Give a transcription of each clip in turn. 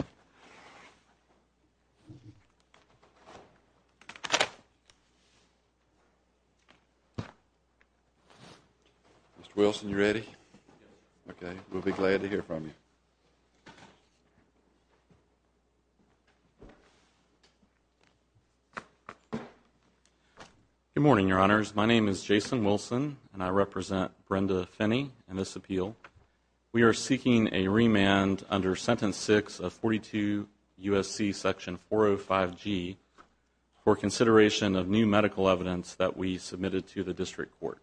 Mr. Wilson, you ready? Okay. We'll be glad to hear from you. Good morning, Your Honors. My name is Jason Wilson, and I represent Brenda Finney in this appeal. We are seeking a remand under Sentence 6 of 42 U.S.C. Section 405G for consideration of new medical evidence that we submitted to the District Court.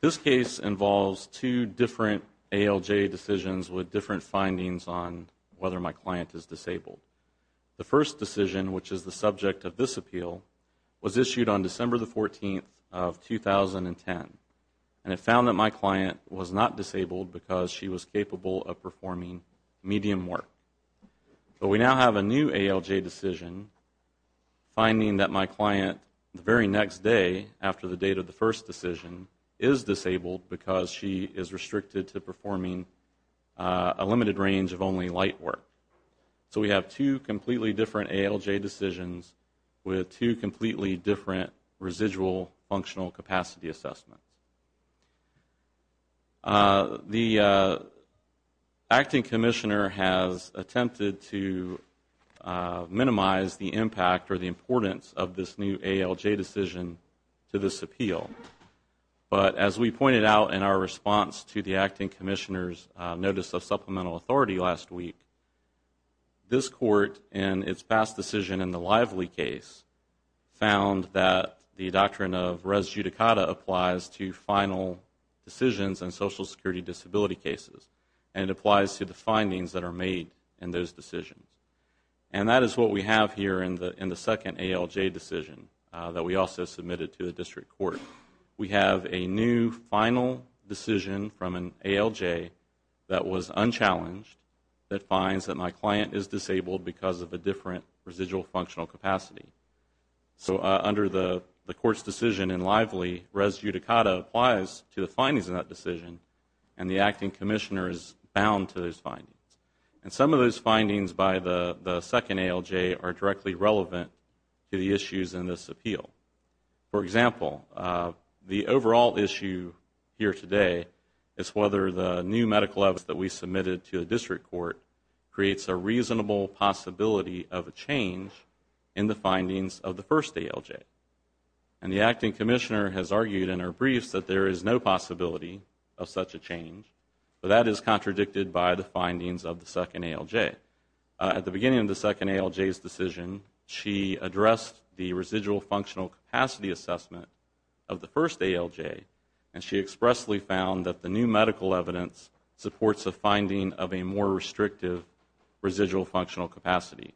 This case involves two different ALJ decisions with different findings on whether my client is disabled. The first decision, which is the subject of this appeal, was issued on December 14, 2010, and it found that my client was not disabled because she was capable of performing medium work. But we now have a new ALJ decision finding that my client, the very next day after the date of the first decision, is disabled because she is restricted to performing a limited range of only light work. So we have two completely different ALJ decisions with two completely different residual functional capacity assessments. The Acting Commissioner has attempted to minimize the impact or the importance of this new ALJ decision to this appeal. But as we pointed out in our response to the Acting Commissioner's Notice of Supplemental Authority last week, this Court, in its past decision in the Lively case, found that the doctrine of res judicata applies to final decisions in Social Security disability cases and applies to the findings that are made in those decisions. And that is what we have here in the second ALJ decision that we also submitted to the District Court. We have a new final decision from an ALJ that was unchallenged that finds that my client is disabled because of a different residual functional capacity. So under the Court's decision in Lively, res judicata applies to the findings in that decision, and some of those findings by the second ALJ are directly relevant to the issues in this appeal. For example, the overall issue here today is whether the new medical evidence that we submitted to the District Court creates a reasonable possibility of a change in the findings of the first ALJ. And the Acting Commissioner has argued in her briefs that there is no possibility of such a change, but that is contradicted by the findings of the second ALJ. At the beginning of the second ALJ's decision, she addressed the residual functional capacity assessment of the first ALJ, and she expressly found that the new medical evidence supports a finding of a more restrictive residual functional capacity.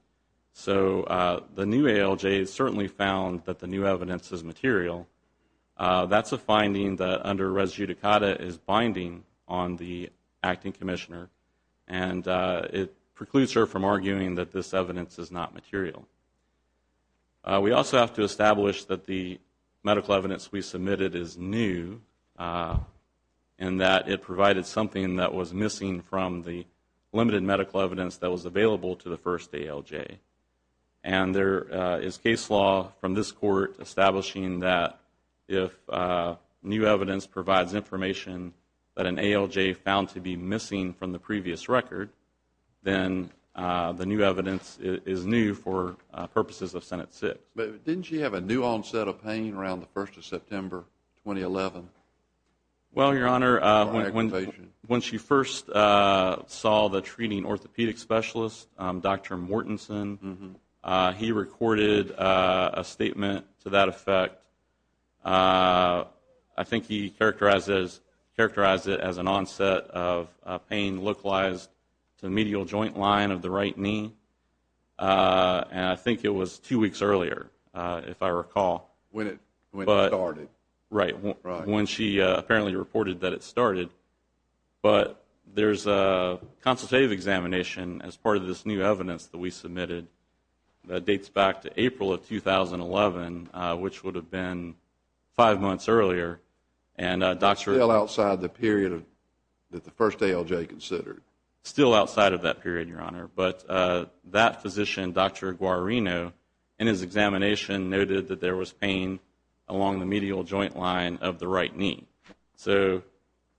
So the new ALJ has certainly found that the new evidence is material. That's a finding that under res judicata is binding on the Acting Commissioner, and it precludes her from arguing that this evidence is not material. We also have to establish that the medical evidence we submitted is new, and that it provided something that was missing from the limited medical evidence that was available to the first ALJ. And there is case law from this Court establishing that if new evidence provides information that an ALJ found to be missing from the previous record, then the new evidence is new for purposes of Senate 6. But didn't she have a new onset of pain around the 1st of September, 2011? Well, Your Honor, when she first saw the treating orthopedic specialist, Dr. Mortensen, he recorded a statement to that effect. I think he characterized it as an onset of pain localized to the medial joint line of the right knee, and I think it was two weeks earlier, if I recall. When it started. Right, when she apparently reported that it started. But there's a consultative examination as part of this new evidence that we submitted that dates back to April of 2011, which would have been five months earlier. Still outside the period that the first ALJ considered. Still outside of that period, Your Honor. But that physician, Dr. Guarino, in his examination noted that there was pain along the medial joint line of the right knee. So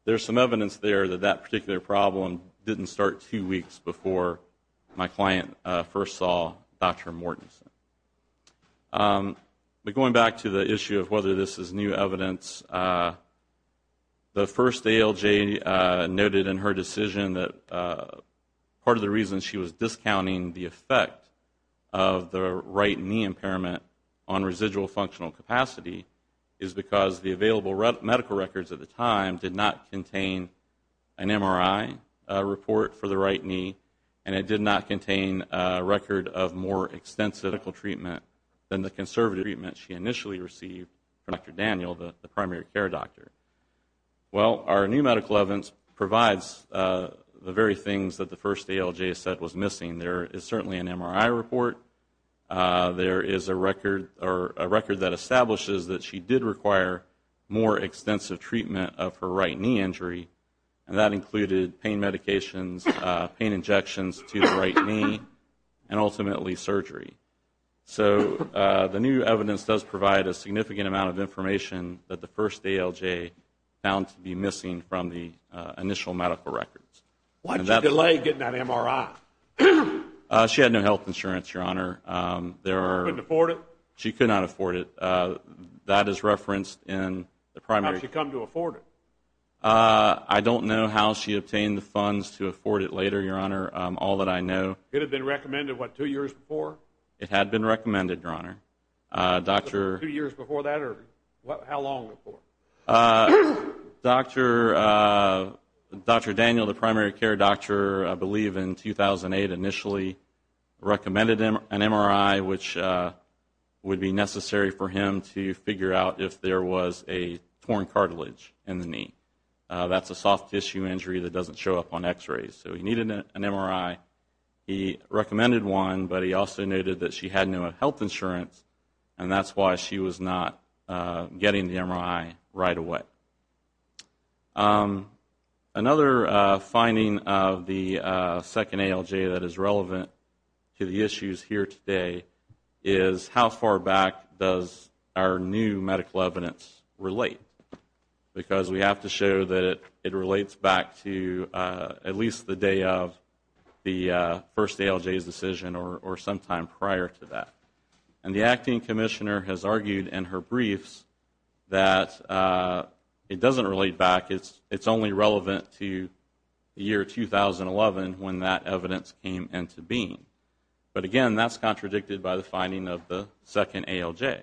there's some evidence there that that particular problem didn't start two weeks before my client first saw Dr. Mortensen. But going back to the issue of whether this is new evidence, the first ALJ noted in her decision that part of the reason she was discounting the effect of the right knee impairment on residual functional capacity is because the available medical records at the time did not contain an MRI report for the right knee, and it did not contain a record of more extensive medical treatment than the conservative treatment she initially received from Dr. Daniel, the primary care doctor. Well, our new medical evidence provides the very things that the first ALJ said was missing. There is certainly an MRI report. There is a record that establishes that she did require more extensive treatment of her right knee injury, and that included pain medications, pain injections to the right knee, and ultimately surgery. So the new evidence does provide a significant amount of information that the first ALJ found to be missing from the initial medical records. Why did you delay getting that MRI? She had no health insurance, Your Honor. Couldn't afford it? She could not afford it. That is referenced in the primary. How did she come to afford it? I don't know how she obtained the funds to afford it later, Your Honor, all that I know. It had been recommended, what, two years before? It had been recommended, Your Honor. Two years before that, or how long before? Dr. Daniel, the primary care doctor, I believe in 2008 initially, recommended an MRI, which would be necessary for him to figure out if there was a torn cartilage in the knee. That's a soft tissue injury that doesn't show up on x-rays, so he needed an MRI. He recommended one, but he also noted that she had no health insurance, and that's why she was not getting the MRI right away. Another finding of the second ALJ that is relevant to the issues here today is how far back does our new medical evidence relate? Because we have to show that it relates back to at least the day of the first ALJ's decision or sometime prior to that. And the acting commissioner has argued in her briefs that it doesn't relate back. It's only relevant to the year 2011 when that evidence came into being. But, again, that's contradicted by the finding of the second ALJ.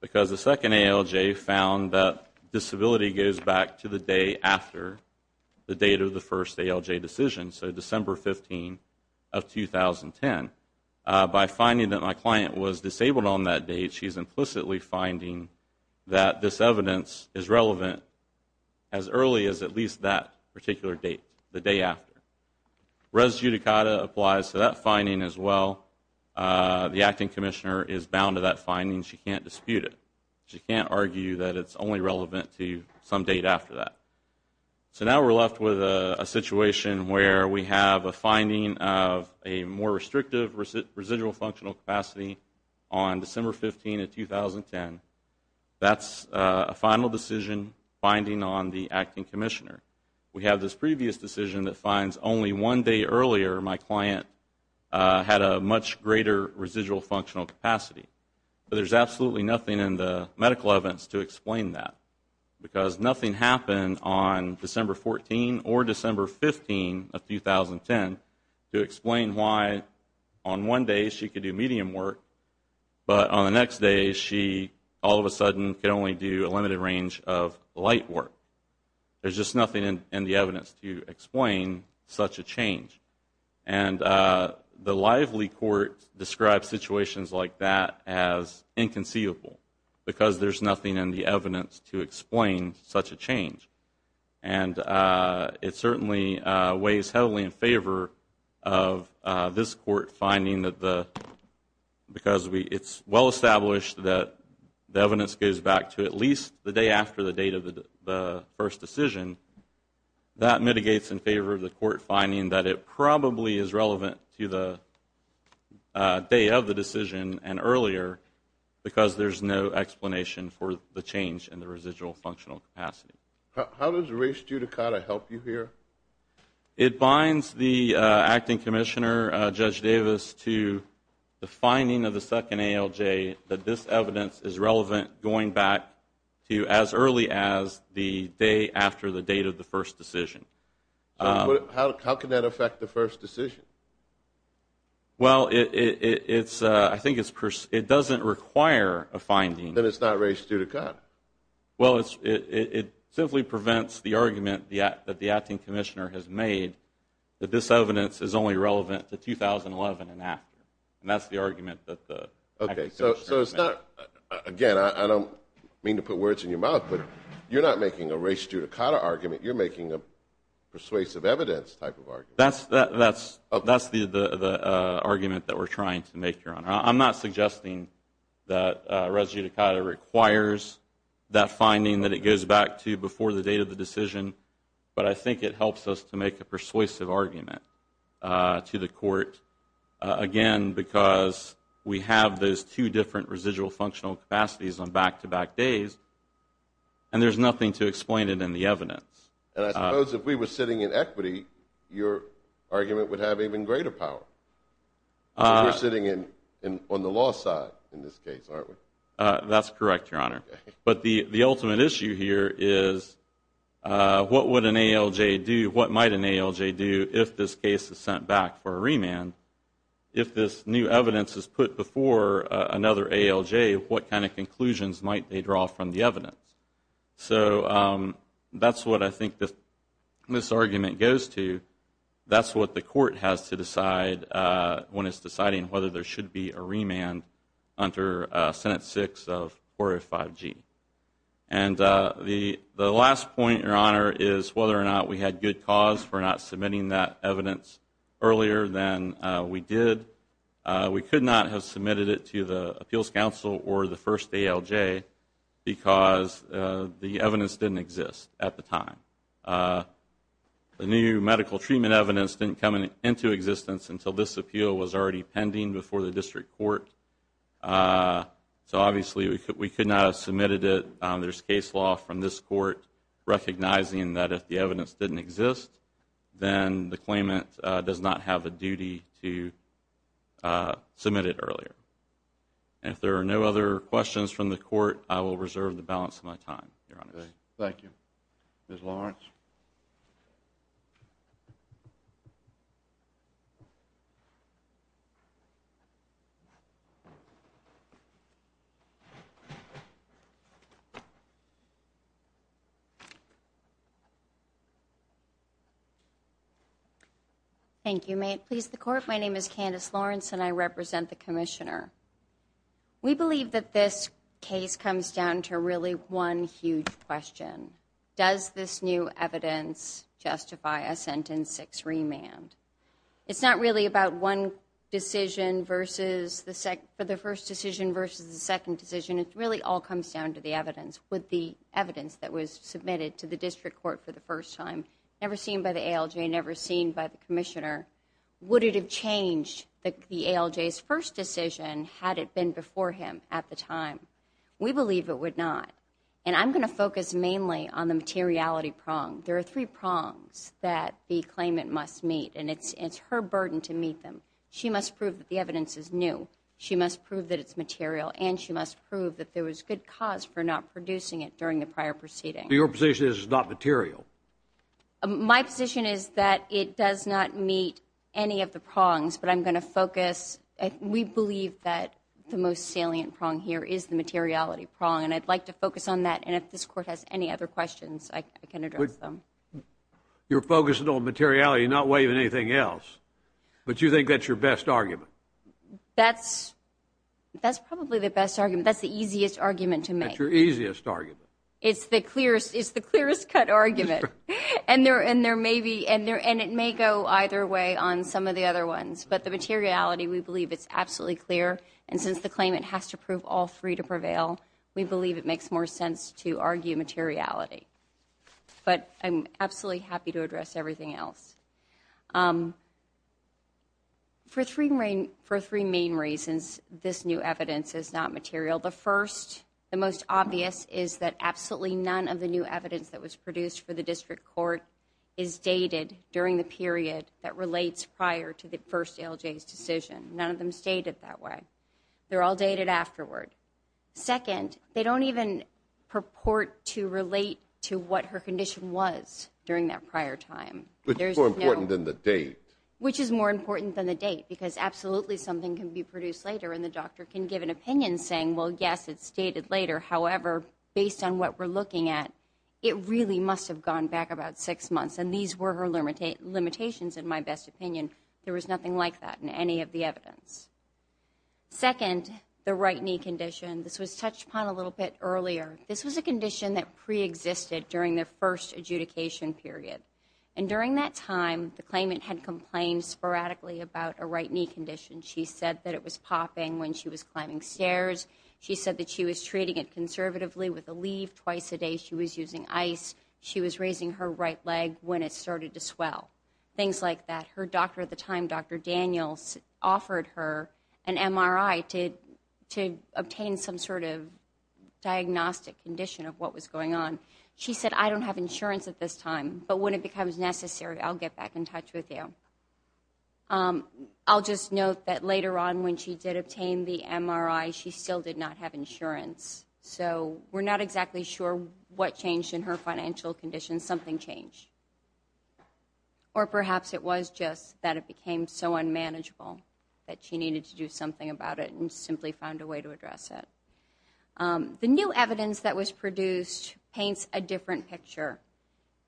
Because the second ALJ found that disability goes back to the day after the date of the first ALJ decision, so December 15 of 2010. By finding that my client was disabled on that date, she's implicitly finding that this evidence is relevant as early as at least that particular date, the day after. Res judicata applies to that finding as well. The acting commissioner is bound to that finding. She can't dispute it. She can't argue that it's only relevant to some date after that. So now we're left with a situation where we have a finding of a more restrictive residual functional capacity on December 15 of 2010. That's a final decision finding on the acting commissioner. We have this previous decision that finds only one day earlier my client had a much greater residual functional capacity. But there's absolutely nothing in the medical evidence to explain that. Because nothing happened on December 14 or December 15 of 2010 to explain why on one day she could do medium work, but on the next day she all of a sudden could only do a limited range of light work. There's just nothing in the evidence to explain such a change. And the lively court describes situations like that as inconceivable, because there's nothing in the evidence to explain such a change. And it certainly weighs heavily in favor of this court finding that the, because it's well established that the evidence goes back to at least the day after the date of the first decision, that mitigates in favor of the court finding that it probably is relevant to the day of the decision and earlier because there's no explanation for the change in the residual functional capacity. How does race judicata help you here? It binds the acting commissioner, Judge Davis, to the finding of the second ALJ, that this evidence is relevant going back to as early as the day after the date of the first decision. How can that affect the first decision? Well, I think it doesn't require a finding. Then it's not race judicata. Well, it simply prevents the argument that the acting commissioner has made that this evidence is only relevant to 2011 and after. And that's the argument that the acting commissioner has made. Okay, so it's not, again, I don't mean to put words in your mouth, but you're not making a race judicata argument. You're making a persuasive evidence type of argument. I'm not suggesting that race judicata requires that finding that it goes back to before the date of the decision, but I think it helps us to make a persuasive argument to the court, again, because we have those two different residual functional capacities on back-to-back days, and there's nothing to explain it in the evidence. And I suppose if we were sitting in equity, your argument would have even greater power. We're sitting on the law side in this case, aren't we? That's correct, Your Honor. But the ultimate issue here is what would an ALJ do, what might an ALJ do, if this case is sent back for a remand? If this new evidence is put before another ALJ, what kind of conclusions might they draw from the evidence? So that's what I think this argument goes to. That's what the court has to decide when it's deciding whether there should be a remand under Senate 6 of 405G. And the last point, Your Honor, is whether or not we had good cause for not submitting that evidence earlier than we did. We could not have submitted it to the Appeals Council or the first ALJ because the evidence didn't exist at the time. The new medical treatment evidence didn't come into existence until this appeal was already pending before the district court. So obviously we could not have submitted it. There's case law from this court recognizing that if the evidence didn't exist, then the claimant does not have the duty to submit it earlier. And if there are no other questions from the court, I will reserve the balance of my time, Your Honor. Thank you. Ms. Lawrence. Thank you. May it please the Court, my name is Candace Lawrence and I represent the Commissioner. We believe that this case comes down to really one huge question. Does this new evidence justify a sentence 6 remand? It's not really about one decision versus the first decision versus the second decision. It really all comes down to the evidence. Would the evidence that was submitted to the district court for the first time, never seen by the ALJ, never seen by the Commissioner, would it have changed the ALJ's first decision had it been before him at the time? We believe it would not. And I'm going to focus mainly on the materiality prong. There are three prongs that the claimant must meet, and it's her burden to meet them. She must prove that the evidence is new. She must prove that it's material. And she must prove that there was good cause for not producing it during the prior proceeding. Your position is it's not material? My position is that it does not meet any of the prongs, but I'm going to focus. We believe that the most salient prong here is the materiality prong, and I'd like to focus on that, and if this Court has any other questions, I can address them. You're focusing on materiality and not waiving anything else, but you think that's your best argument? That's probably the best argument. That's the easiest argument to make. That's your easiest argument. It's the clearest cut argument, and it may go either way on some of the other ones, but the materiality, we believe it's absolutely clear, and since the claimant has to prove all three to prevail, we believe it makes more sense to argue materiality. But I'm absolutely happy to address everything else. For three main reasons, this new evidence is not material. The first, the most obvious, is that absolutely none of the new evidence that was produced for the district court is dated during the period that relates prior to the first ALJ's decision. None of them stated that way. They're all dated afterward. Second, they don't even purport to relate to what her condition was during that prior time. Which is more important than the date. Which is more important than the date, because absolutely something can be produced later, and the doctor can give an opinion saying, well, yes, it's dated later. However, based on what we're looking at, it really must have gone back about six months, and these were her limitations, in my best opinion. There was nothing like that in any of the evidence. Second, the right knee condition. This was touched upon a little bit earlier. This was a condition that preexisted during the first adjudication period, and during that time, the claimant had complained sporadically about a right knee condition. She said that it was popping when she was climbing stairs. She said that she was treating it conservatively with a leaf. Twice a day she was using ice. She was raising her right leg when it started to swell. Things like that. Her doctor at the time, Dr. Daniels, offered her an MRI to obtain some sort of diagnostic condition of what was going on. She said, I don't have insurance at this time, but when it becomes necessary, I'll get back in touch with you. I'll just note that later on when she did obtain the MRI, she still did not have insurance. So we're not exactly sure what changed in her financial condition. Something changed. Or perhaps it was just that it became so unmanageable that she needed to do something about it and simply found a way to address it. The new evidence that was produced paints a different picture.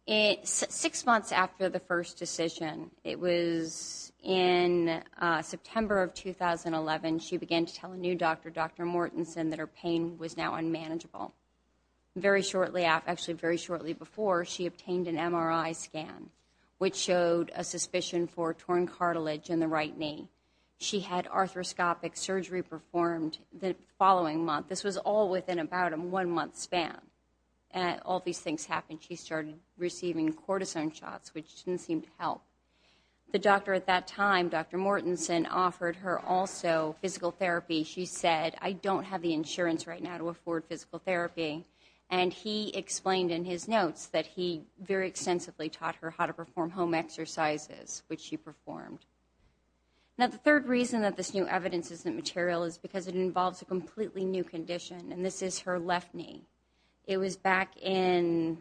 Six months after the first decision, it was in September of 2011, she began to tell a new doctor, Dr. Mortensen, that her pain was now unmanageable. Very shortly after, actually very shortly before, she obtained an MRI scan, which showed a suspicion for torn cartilage in the right knee. She had arthroscopic surgery performed the following month. This was all within about a one-month span. All these things happened. She started receiving cortisone shots, which didn't seem to help. The doctor at that time, Dr. Mortensen, offered her also physical therapy. She said, I don't have the insurance right now to afford physical therapy, and he explained in his notes that he very extensively taught her how to perform home exercises, which she performed. Now, the third reason that this new evidence isn't material is because it involves a completely new condition, and this is her left knee. It was back in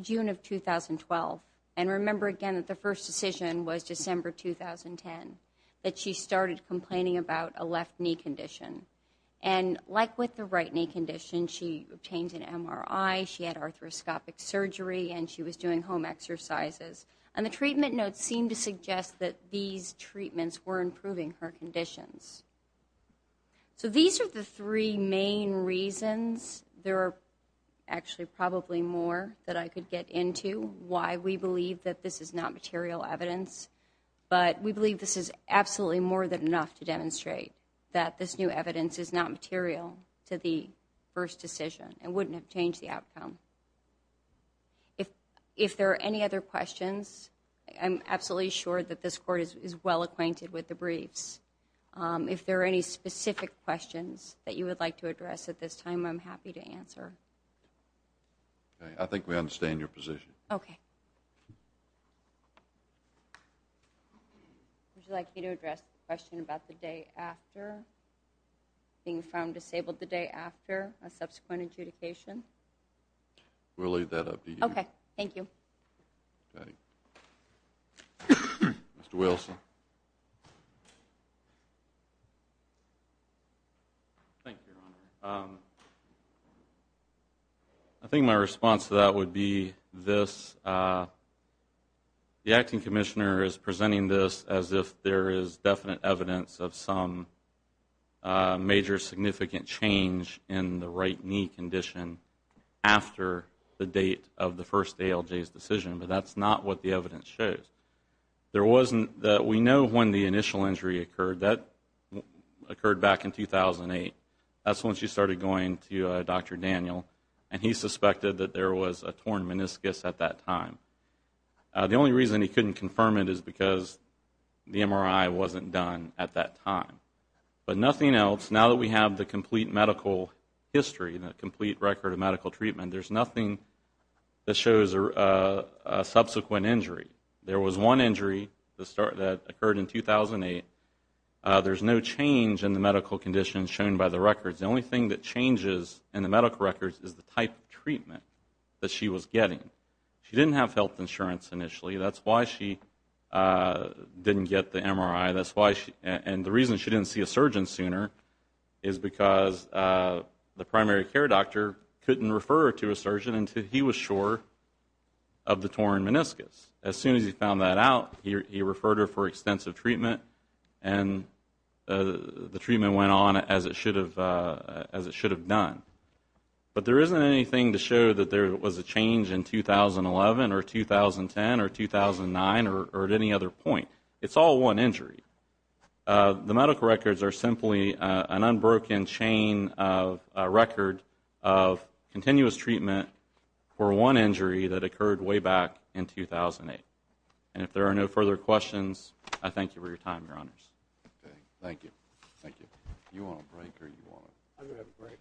June of 2012, and remember again that the first decision was December 2010, that she started complaining about a left knee condition. Like with the right knee condition, she obtained an MRI, she had arthroscopic surgery, and she was doing home exercises. The treatment notes seemed to suggest that these treatments were improving her conditions. So these are the three main reasons. There are actually probably more that I could get into, why we believe that this is not material evidence, but we believe this is absolutely more than enough to demonstrate that this new evidence is not material to the first decision and wouldn't have changed the outcome. If there are any other questions, I'm absolutely sure that this court is well acquainted with the briefs. If there are any specific questions that you would like to address at this time, I'm happy to answer. I think we understand your position. Okay. Would you like me to address the question about the day after, being found disabled the day after a subsequent adjudication? We'll leave that up to you. Okay. Thank you. Okay. Mr. Wilson. Thank you, Your Honor. I think my response to that would be this. The acting commissioner is presenting this as if there is definite evidence of some major significant change in the right knee condition after the date of the first ALJ's decision, but that's not what the evidence shows. We know when the initial injury occurred. That occurred back in 2008. That's when she started going to Dr. Daniel, and he suspected that there was a torn meniscus at that time. The only reason he couldn't confirm it is because the MRI wasn't done at that time. But nothing else, now that we have the complete medical history, the complete record of medical treatment, there's nothing that shows a subsequent injury. There was one injury that occurred in 2008. There's no change in the medical conditions shown by the records. The only thing that changes in the medical records is the type of treatment that she was getting. She didn't have health insurance initially. That's why she didn't get the MRI, and the reason she didn't see a surgeon sooner is because the primary care doctor couldn't refer her to a surgeon until he was sure of the torn meniscus. As soon as he found that out, he referred her for extensive treatment, and the treatment went on as it should have done. But there isn't anything to show that there was a change in 2011 or 2010 or 2009 or at any other point. It's all one injury. The medical records are simply an unbroken chain of record of continuous treatment for one injury that occurred way back in 2008. And if there are no further questions, I thank you for your time, Your Honors. Thank you.